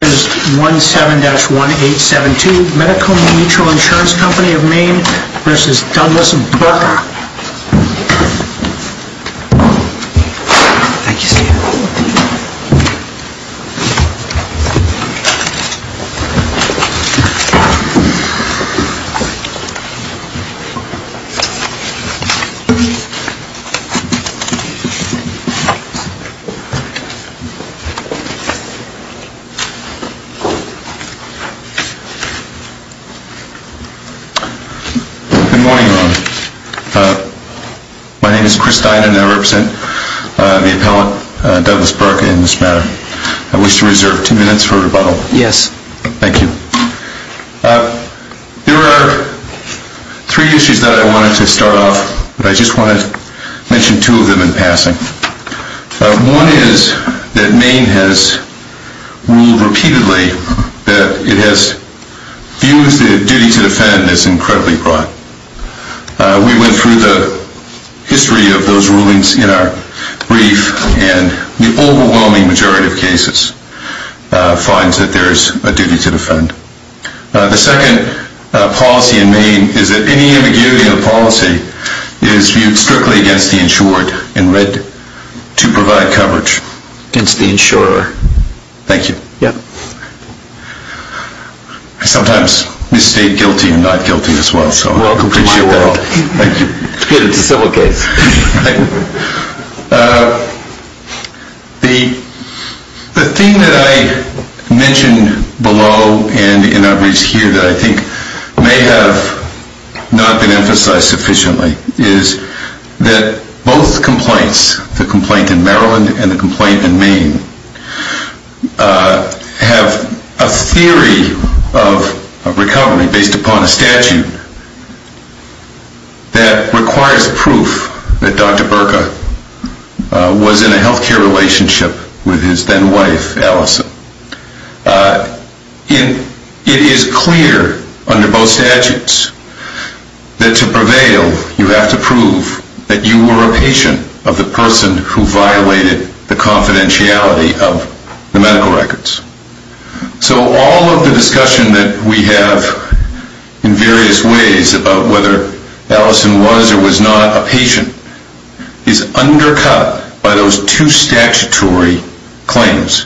This is 17-1872 Medical Mutual Insurance Co. of Maine v. Douglas Burka Good morning, Your Honor. My name is Chris Dinan and I represent the appellant, Douglas Burka, in this matter. I wish to reserve two minutes for rebuttal. Yes. Thank you. There are three issues that I wanted to start off with. I just want to mention two of them in passing. One is that Maine has ruled repeatedly that it has viewed the duty to defend as incredibly broad. We went through the history of those rulings in our brief and the overwhelming majority of cases finds that there is a duty to defend. The second policy in Maine is that any ambiguity in the policy is viewed strictly against the insurer. Thank you. Yes. I sometimes misstate guilty and not guilty as well, so I appreciate that. Welcome to my world. It's good it's a civil case. The thing that I mentioned below and in our briefs here that I think may have not been the case, is that the two points, the complaint in Maryland and the complaint in Maine, have a theory of recovery based upon a statute that requires proof that Dr. Burka was in a health care relationship with his then wife, Allison. It is clear under both statutes that to prevail you have to prove that you were a patient of the person who violated the confidentiality of the medical records. So all of the discussion that we have in various ways about whether Allison was or was not a patient is undercut by those two statutory claims,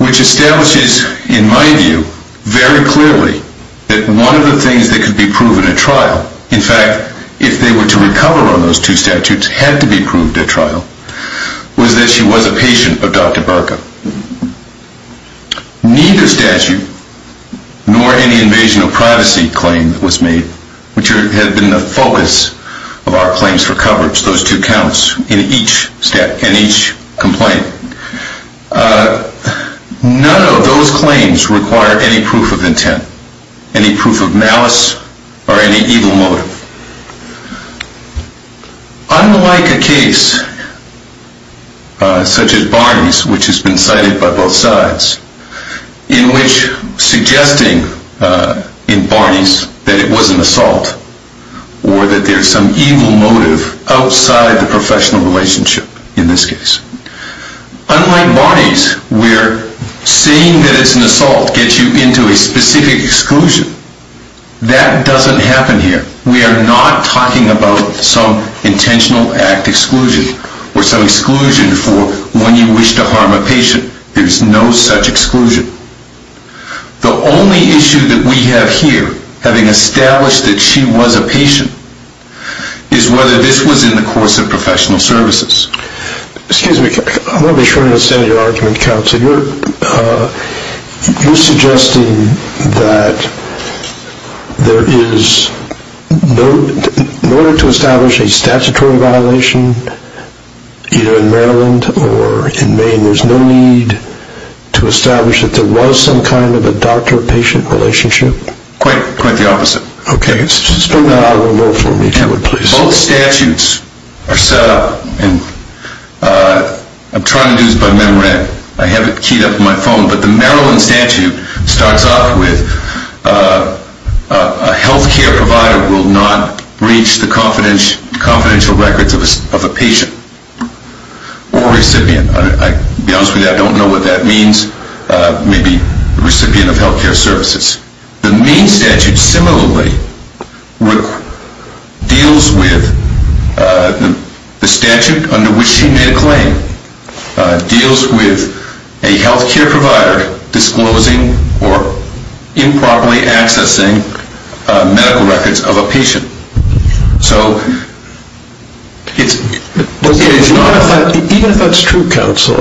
which establishes in my view very clearly that one of the things that could be proven at trial, in fact, if they were to recover on those two statutes, had to be proved at trial, was that she was a patient of Dr. Burka. Neither statute, nor any invasion of privacy claim that was made, which had been the focus of our claims for coverage, those two counts in each complaint, none of those claims require any proof of intent, any proof of malice, or any evil motive. Unlike a case such as Barney's, which has been cited by both sides, in which suggesting in Barney's that it was an assault, or that there is some evil motive outside the professional relationship, in this case, unlike Barney's, where saying that it's an assault gets you into a specific exclusion, that doesn't happen here. We are not talking about some intentional act exclusion, or some exclusion for when you wish to harm a patient. There is no such exclusion. The only issue that we have here, having established that she was a patient, is whether this was in the course of professional services. Excuse me, I want to be sure I understand your argument, counsel. You're suggesting that there is, in order to establish a statutory violation, either in Maryland, or in Maine, there's no need to establish that there was some kind of a doctor-patient relationship? Quite the opposite. Okay, spell that out a little more for me, please. Both statutes are set up, and I'm trying to do this by memory, I have it keyed up in my phone, but the Maryland statute starts off with a health care provider will not breach the confidential records of a patient, or recipient. I'll be honest with you, I don't know what that means. Maybe recipient of health care services. The Maine statute similarly deals with the statute under which she made a claim, deals with a health care provider disclosing or improperly accessing medical records of a patient. So, it's not a fact, even if that's true, counsel,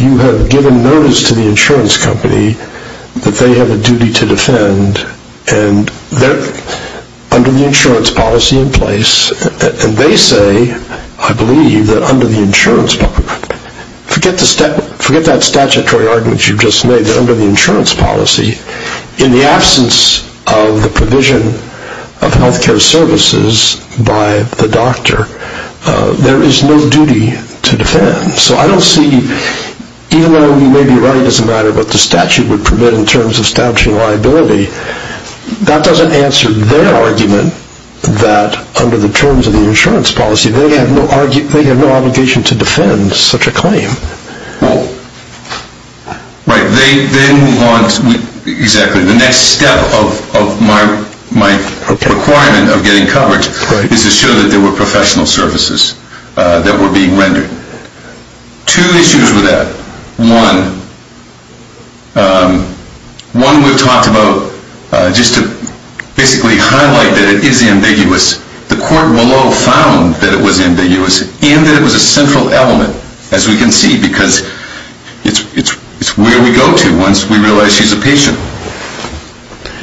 you have given notice to the insurance company that they have a duty to defend, and they're under the insurance policy in place, and they say, I believe, that under the insurance policy, forget that statutory argument you just made, that under the insurance policy, in the absence of the provision of health care services by the doctor, there is no duty to defend. So, I don't see, even though you may be right, it doesn't matter what the statute would permit in terms of establishing liability, that doesn't answer their argument that under the terms of the insurance policy, they have no obligation to defend such a claim. Well, right, they then want, exactly, the next step of my requirement of getting coverage is to show that there were professional services that were being rendered. Two issues with that. One, one we've talked about, just to basically highlight that it is ambiguous, the court below found that it was ambiguous, and that it was a central element, as we can see, because it's where we go to once we realize she's a patient.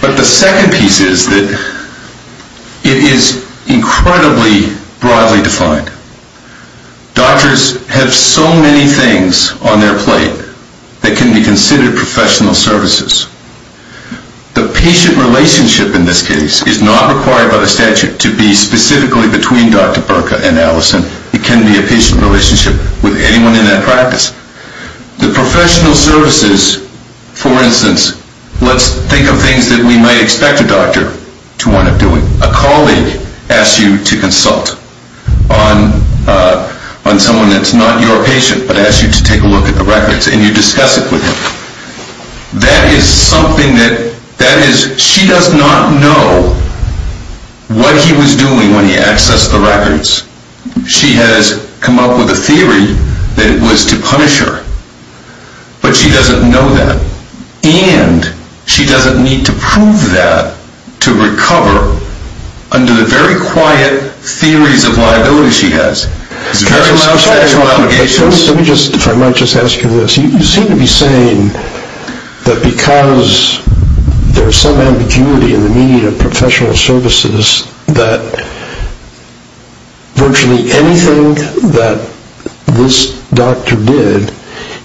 But the second piece is that it is incredibly broadly defined. Doctors have so many things on their plate that can be considered professional services. The patient relationship in this case is not required by the statute to be specifically between Dr. Berka and Allison. It can be a patient relationship with anyone in that practice. The professional services, for instance, let's think of things that we might expect a doctor to want to do. A colleague asks you to consult on someone that's not your patient, but asks you to take a look at the records, and you discuss it with him. That is something that, that is, she does not know what he was doing when he accessed the records. She has come up with a theory that it was to punish her. But she doesn't know that. And she doesn't need to prove that to recover under the very quiet theories of liability she has. It's very lax professional obligations. Let me just, if I might just ask you this. You seem to be saying that because there's some ambiguity in the meaning of professional services that virtually anything that this doctor did,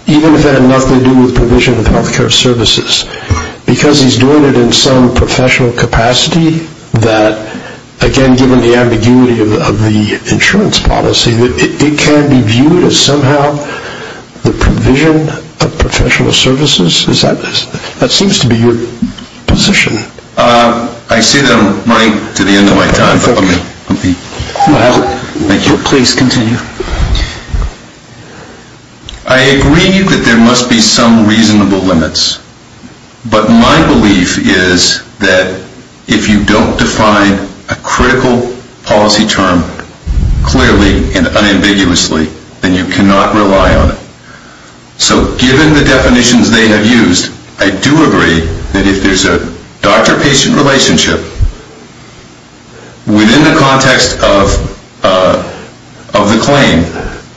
even if it had nothing to do with provision of health care services, because he's doing it in some professional capacity that, again, given the ambiguity of the insurance policy, that it can be viewed as somehow the provision of professional services? That seems to be your position. I see that I'm running to the end of my time. Thank you. Please continue. I agree that there must be some reasonable limits. But my belief is that if you don't define a critical policy term clearly and unambiguously, then you cannot rely on it. So given the definitions they have used, I do agree that if there's a doctor-patient relationship within the context of the claim,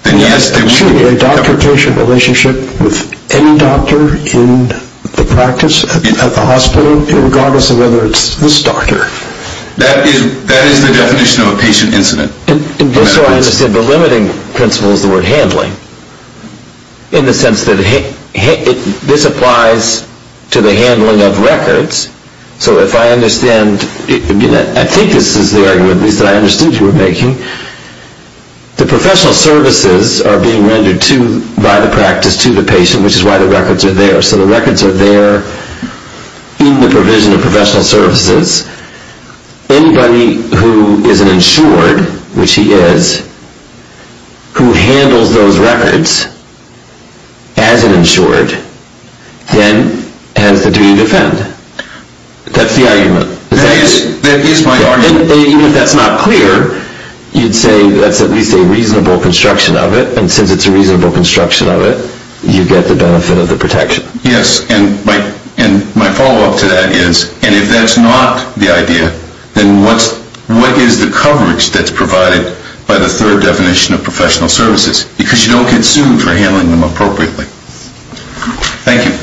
then yes, there would be a doctor-patient relationship with any doctor in the practice at the hospital, regardless of whether it's this doctor. That is the definition of a patient incident. Just so I understand, the limiting principle is the word handling, in the sense that this applies to the handling of records. So if I understand, I think this is the argument that I understood you were making. The professional services are being rendered by the practice to the patient, which is why the records are there. So the records are there in the provision of professional services. Anybody who is an insured, which he is, who handles those records as an insured, then has the duty to defend. That's the argument. That is my argument. Even if that's not clear, you'd say that's at least a reasonable construction of it. And since it's a reasonable construction of it, you get the benefit of the protection. Yes. And my follow-up to that is, and if that's not the idea, then what is the coverage that's provided by the third definition of professional services? Because you don't get sued for handling them appropriately. Thank you.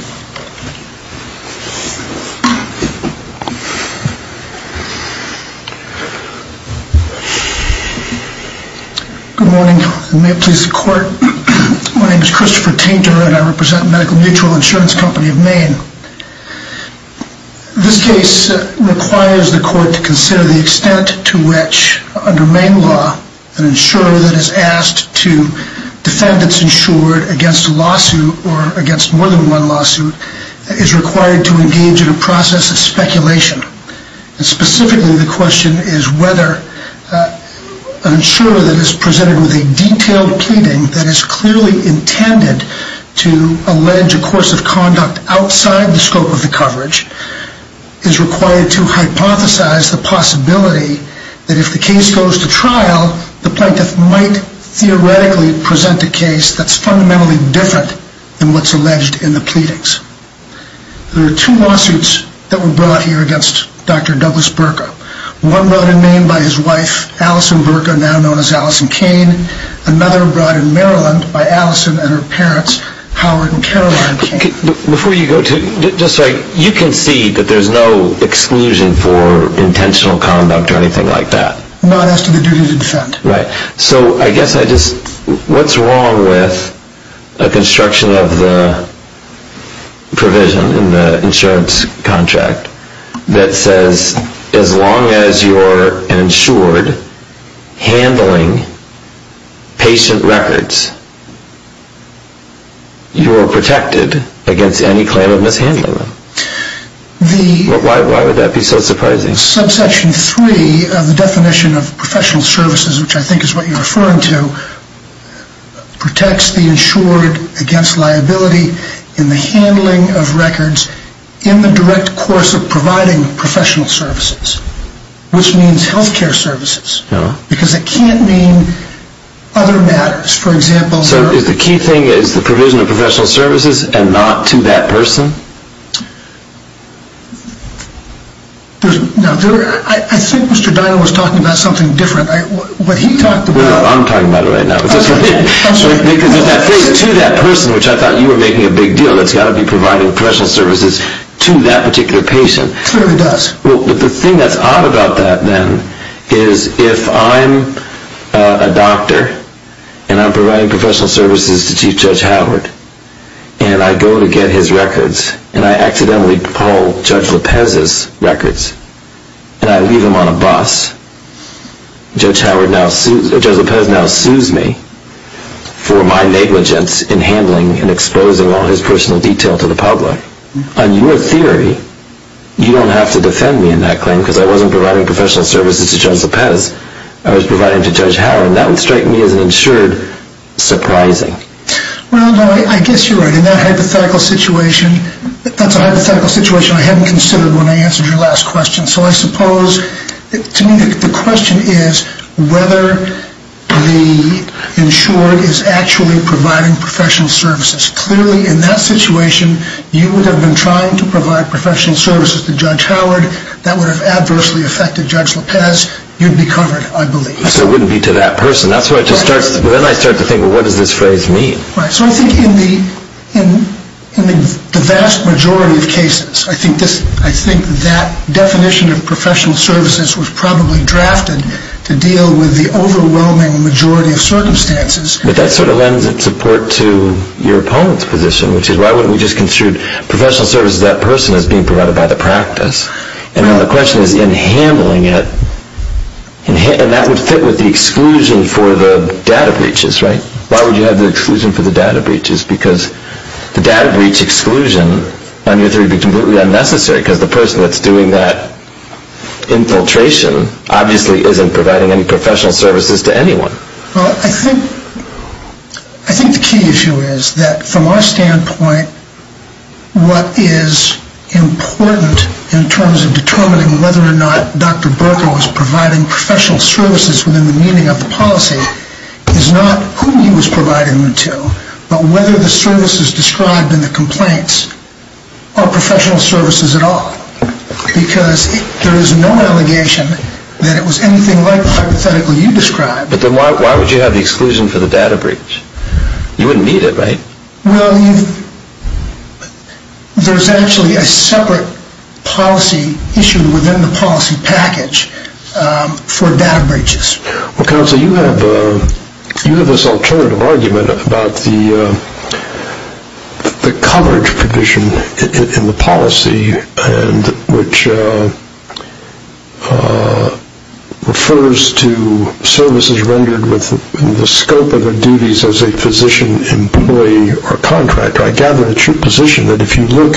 Good morning. May it please the Court. My name is Christopher Tainter, and I represent Medical Mutual Insurance Company of Maine. This case requires the Court to consider the extent to which, under Maine law, an insurer that is asked to defend its insured against a lawsuit or against more than one lawsuit is required to engage in a process of speculation. And specifically, the question is whether an insurer that is presented with a detailed pleading that is clearly intended to allege a course of conduct outside the scope of the coverage is required to hypothesize the possibility that if the case goes to trial, the plaintiff might theoretically present a case that's fundamentally different than what's alleged in the pleadings. There are two lawsuits that were brought here against Dr. Douglas Berka. One brought in Maine by his wife, Allison Berka, now known as Allison Cain. Another brought in Maryland by Allison and her parents, Howard and Caroline Cain. Before you go to, just so I, you can see that there's no exclusion for intentional conduct or anything like that? Not as to the duty to defend. Right. So I guess I just, what's wrong with a construction of the provision in the insurance contract that says as long as you're an insured handling patient records, you are protected against any claim of mishandling them? Why would that be so surprising? Subsection 3 of the definition of professional services, which I think is what you're referring to, protects the insured against liability in the handling of records in the direct course of providing professional services, which means health care services, because it can't mean other matters. So the key thing is the provision of professional services and not to that person? I think Mr. Dinah was talking about something different. I'm talking about it right now. There's that phrase, to that person, which I thought you were making a big deal, that's got to be providing professional services to that particular patient. It clearly does. The thing that's odd about that then is if I'm a doctor and I'm providing professional services to Chief Judge Howard and I go to get his records and I accidentally pull Judge LePez's records and I leave them on a bus, Judge LePez now sues me for my negligence in handling and exposing all his personal detail to the public. On your theory, you don't have to defend me in that claim because I wasn't providing professional services to Judge LePez. I was providing to Judge Howard. That would strike me as an insured surprising. Well, no, I guess you're right. In that hypothetical situation, that's a hypothetical situation I hadn't considered when I answered your last question. So I suppose to me the question is whether the insured is actually providing professional services. Clearly in that situation, you would have been trying to provide professional services to Judge Howard. That would have adversely affected Judge LePez. You'd be covered, I believe. So it wouldn't be to that person. Then I start to think, well, what does this phrase mean? So I think in the vast majority of cases, I think that definition of professional services was probably drafted to deal with the overwhelming majority of circumstances. But that sort of lends its support to your opponent's position, which is why wouldn't we just consider professional services to that person as being provided by the practice? And now the question is in handling it, and that would fit with the exclusion for the data breaches, right? Why would you have the exclusion for the data breaches? Because the data breach exclusion on your theory would be completely unnecessary because the person that's doing that infiltration obviously isn't providing any professional services to anyone. Well, I think the key issue is that from our standpoint, what is important in terms of determining whether or not Dr. Berko is providing professional services within the meaning of the policy is not who he was providing them to, but whether the services described in the complaints are professional services at all. Because there is no allegation that it was anything like the hypothetical you described. But then why would you have the exclusion for the data breach? You wouldn't need it, right? Well, there's actually a separate policy issue within the policy package for data breaches. Well, Counsel, you have this alternative argument about the coverage provision in the policy, which refers to services rendered within the scope of their duties as a physician, employee, or contractor. I gather it's your position that if you look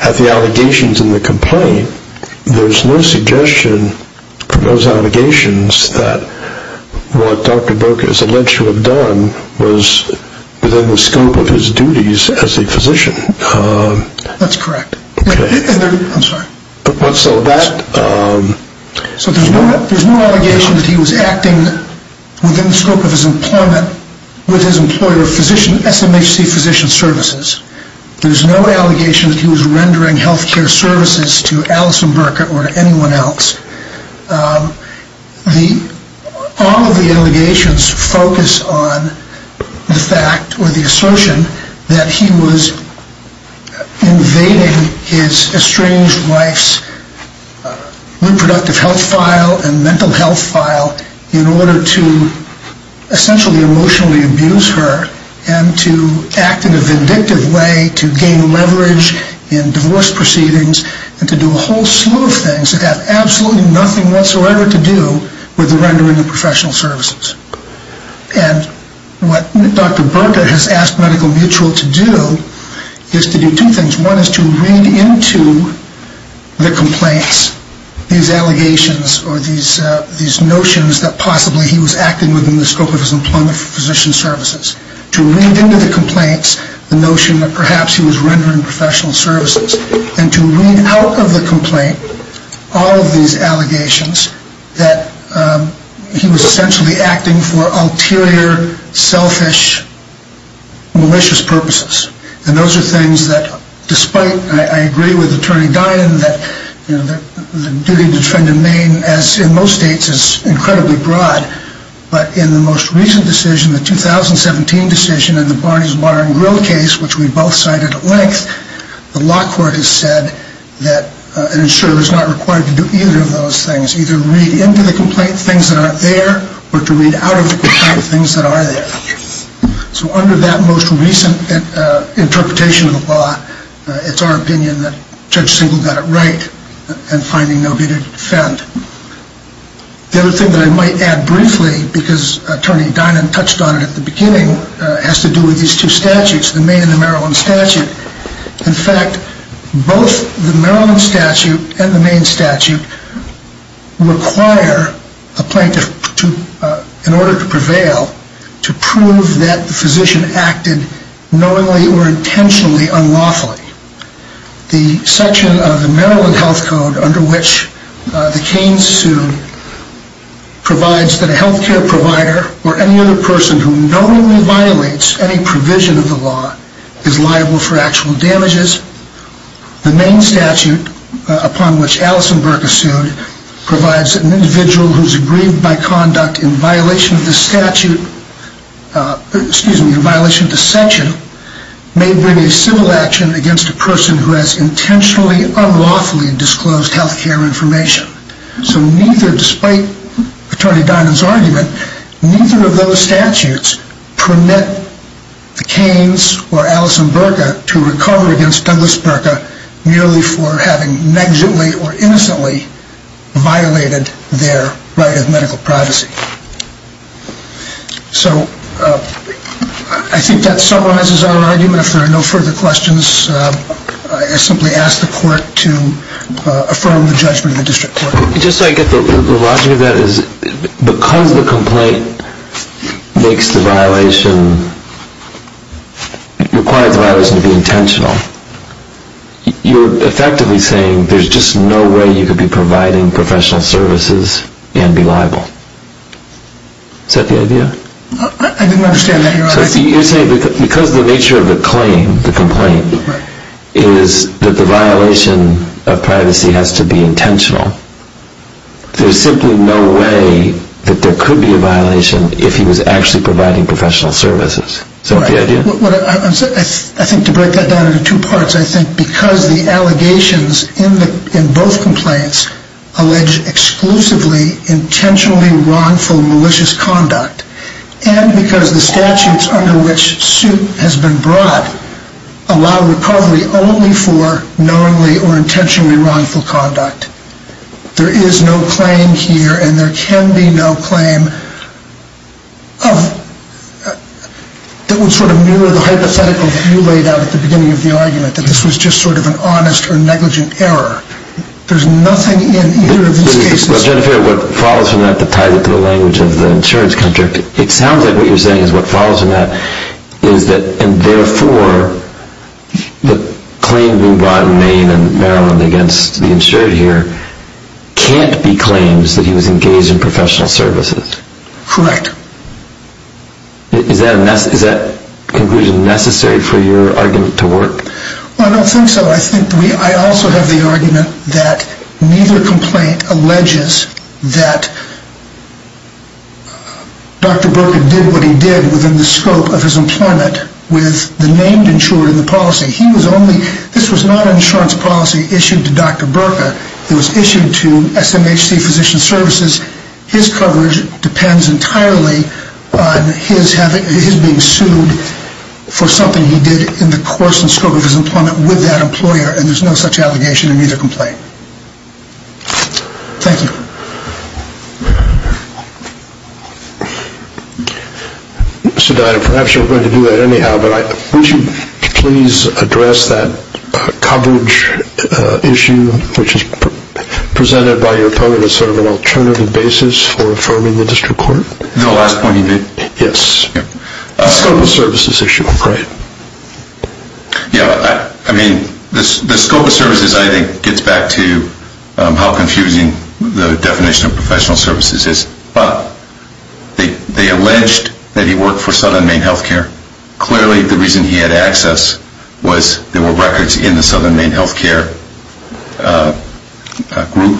at the allegations in the complaint, there's no suggestion from those allegations that what Dr. Berko is alleged to have done was within the scope of his duties as a physician. That's correct. I'm sorry. So there's no allegation that he was acting within the scope of his employment with his employer of SMHC physician services. There's no allegation that he was rendering health care services to Allison Berko or to anyone else. All of the allegations focus on the fact, or the assertion, that he was invading his estranged wife's reproductive health file and mental health file in order to essentially emotionally abuse her and to act in a vindictive way to gain leverage in divorce proceedings and to do a whole slew of things that have absolutely nothing whatsoever to do with the rendering of professional services. And what Dr. Berko has asked Medical Mutual to do is to do two things. One is to read into the complaints these allegations or these notions that possibly he was acting within the scope of his employment for physician services, to read into the complaints the notion that perhaps he was rendering professional services and to read out of the complaint all of these allegations that he was essentially acting for ulterior, selfish, malicious purposes. And those are things that, despite, I agree with Attorney Dinen, that the duty to defend in Maine, as in most states, is incredibly broad. But in the most recent decision, the 2017 decision in the Barney's Bar and Grill case, which we both cited at length, the law court has said that an insurer is not required to do either of those things, either read into the complaint things that aren't there or to read out of the complaint things that are there. So under that most recent interpretation of the law, it's our opinion that Judge Singleton got it right in finding nobody to defend. The other thing that I might add briefly, because Attorney Dinen touched on it at the beginning, has to do with these two statutes, the Maine and the Maryland statute. In fact, both the Maryland statute and the Maine statute require a plaintiff, in order to prevail, to prove that the physician acted knowingly or intentionally unlawfully. The section of the Maryland health code under which the Keynes sue provides that a health care provider or any other person who knowingly violates any provision of the law is liable for actual damages. The Maine statute, upon which Allison Burke is sued, provides that an individual who is aggrieved by conduct in violation of the statute, excuse me, in violation of the section, may bring a civil action against a person who has intentionally unlawfully disclosed health care information. So neither, despite Attorney Dinen's argument, neither of those statutes permit the Keynes or Allison Burke to recover against Douglas Burke merely for having negligently or innocently violated their right of medical privacy. So I think that summarizes our argument. If there are no further questions, I simply ask the court to affirm the judgment of the district court. Just so I get the logic of that, because the complaint makes the violation, requires the violation to be intentional, you're effectively saying there's just no way you could be providing professional services and be liable. I didn't understand that, Your Honor. You're saying because the nature of the claim, the complaint, is that the violation of privacy has to be intentional, there's simply no way that there could be a violation if he was actually providing professional services. Is that the idea? I think to break that down into two parts, I think because the allegations in both complaints allege exclusively intentionally wrongful malicious conduct, and because the statutes under which suit has been brought allow recovery only for knowingly or intentionally wrongful conduct. There is no claim here, and there can be no claim, that would sort of mirror the hypothetical that you laid out at the beginning of the argument, that this was just sort of an honest or negligent error. There's nothing in either of these cases. I'm trying to figure out what follows from that that ties into the language of the insurance contract. It sounds like what you're saying is what follows from that is that, and therefore the claim being brought in Maine and Maryland against the insured here can't be claims that he was engaged in professional services. Correct. Is that conclusion necessary for your argument to work? I don't think so. I also have the argument that neither complaint alleges that Dr. Berka did what he did within the scope of his employment with the named insured in the policy. This was not an insurance policy issued to Dr. Berka. It was issued to SMHC Physician Services. His coverage depends entirely on his being sued for something he did in the course and scope of his employment with that employer, and there's no such allegation in either complaint. Thank you. Mr. Dyer, perhaps you're going to do that anyhow, but would you please address that coverage issue, which is presented by your opponent as sort of an alternative basis for affirming the district court? The last point you made. Yes. The scope of services issue, I'm afraid. Yeah, I mean, the scope of services, I think, gets back to how confusing the definition of professional services is. But they alleged that he worked for Southern Maine Health Care. Clearly the reason he had access was there were records in the Southern Maine Health Care group.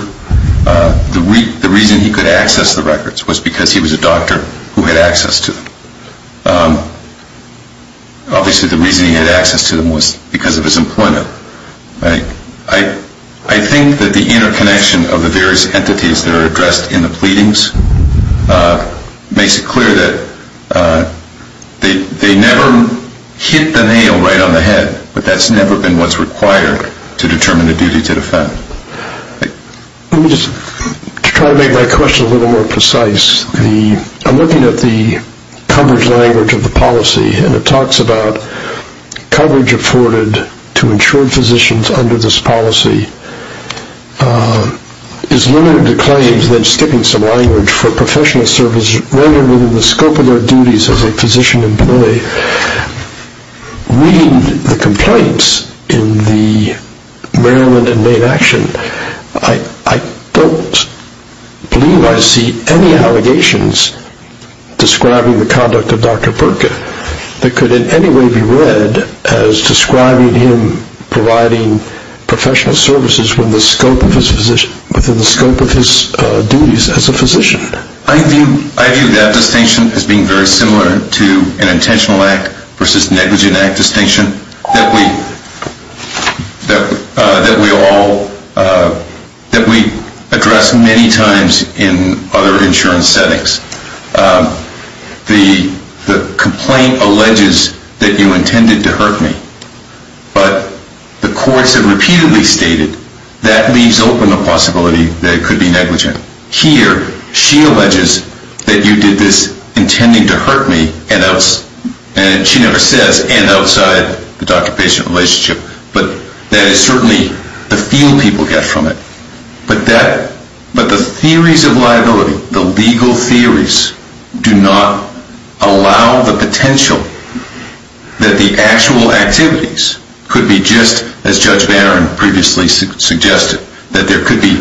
The reason he could access the records was because he was a doctor who had access to them. Obviously the reason he had access to them was because of his employment. I think that the interconnection of the various entities that are addressed in the pleadings makes it clear that they never hit the nail right on the head, but that's never been what's required to determine a duty to defend. Let me just try to make my question a little more precise. I'm looking at the coverage language of the policy, and it talks about coverage afforded to insured physicians under this policy is limited to claims, then skipping some language for professional services, rarely within the scope of their duties as a physician employee. Reading the complaints in the Maryland and Maine Action, I don't believe I see any allegations describing the conduct of Dr. Berka that could in any way be read as describing him providing professional services within the scope of his duties as a physician. I view that distinction as being very similar to an intentional act versus negligent act distinction that we address many times in other insurance settings. The complaint alleges that you intended to hurt me, but the courts have repeatedly stated that leaves open the possibility that it could be negligent. Here, she alleges that you did this intending to hurt me, and she never says, and outside the doctor-patient relationship, but that is certainly the feel people get from it. But the theories of liability, the legal theories, do not allow the potential that the actual activities could be just, as Judge Barron previously suggested, that there could be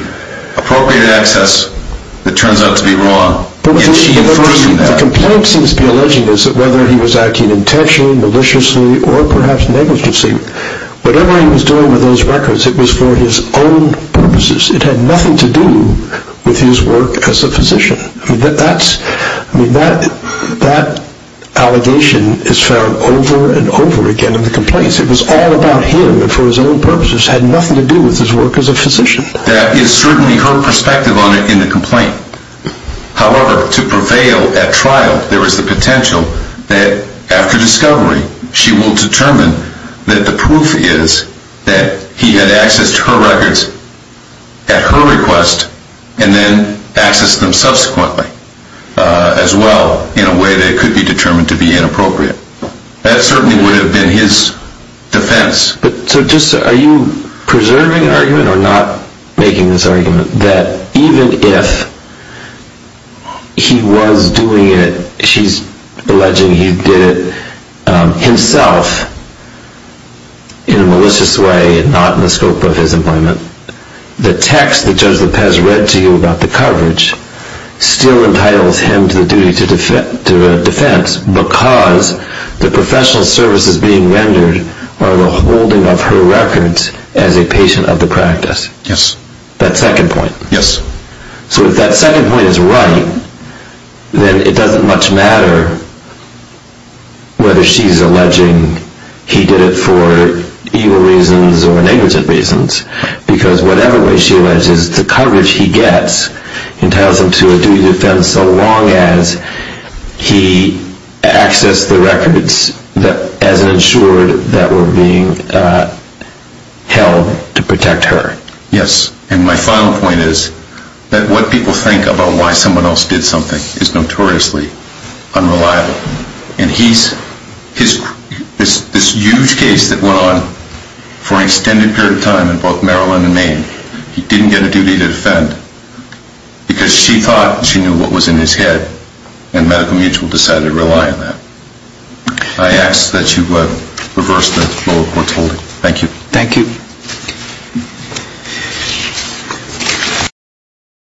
appropriate access that turns out to be wrong. The complaint seems to be alleging this, that whether he was acting intentionally, maliciously, or perhaps negligently, whatever he was doing with those records, it was for his own purposes. It had nothing to do with his work as a physician. That allegation is found over and over again in the complaints. It was all about him, and for his own purposes, had nothing to do with his work as a physician. That is certainly her perspective on it in the complaint. However, to prevail at trial, there is the potential that after discovery, she will determine that the proof is that he had accessed her records at her request and then accessed them subsequently as well, in a way that could be determined to be inappropriate. That certainly would have been his defense. Are you preserving an argument, or not making this argument, that even if he was doing it, she's alleging he did it himself, in a malicious way, not in the scope of his employment, the text that Judge Lopez read to you about the coverage still entitles him to the duty to defense because the professional services being rendered are the holding of her records as a patient of the practice? Yes. That second point? Yes. So if that second point is right, then it doesn't much matter whether she's alleging he did it for evil reasons or negligent reasons, because whatever way she alleges the coverage he gets entitles him to a duty to defend so long as he accessed the records as ensured that were being held to protect her. Yes. And my final point is that what people think about why someone else did something is notoriously unreliable. And this huge case that went on for an extended period of time in both Maryland and Maine, he didn't get a duty to defend because she thought she knew what was in his head and Medical Mutual decided to rely on that. I ask that you reverse the flow of what's holding. Thank you. Thank you.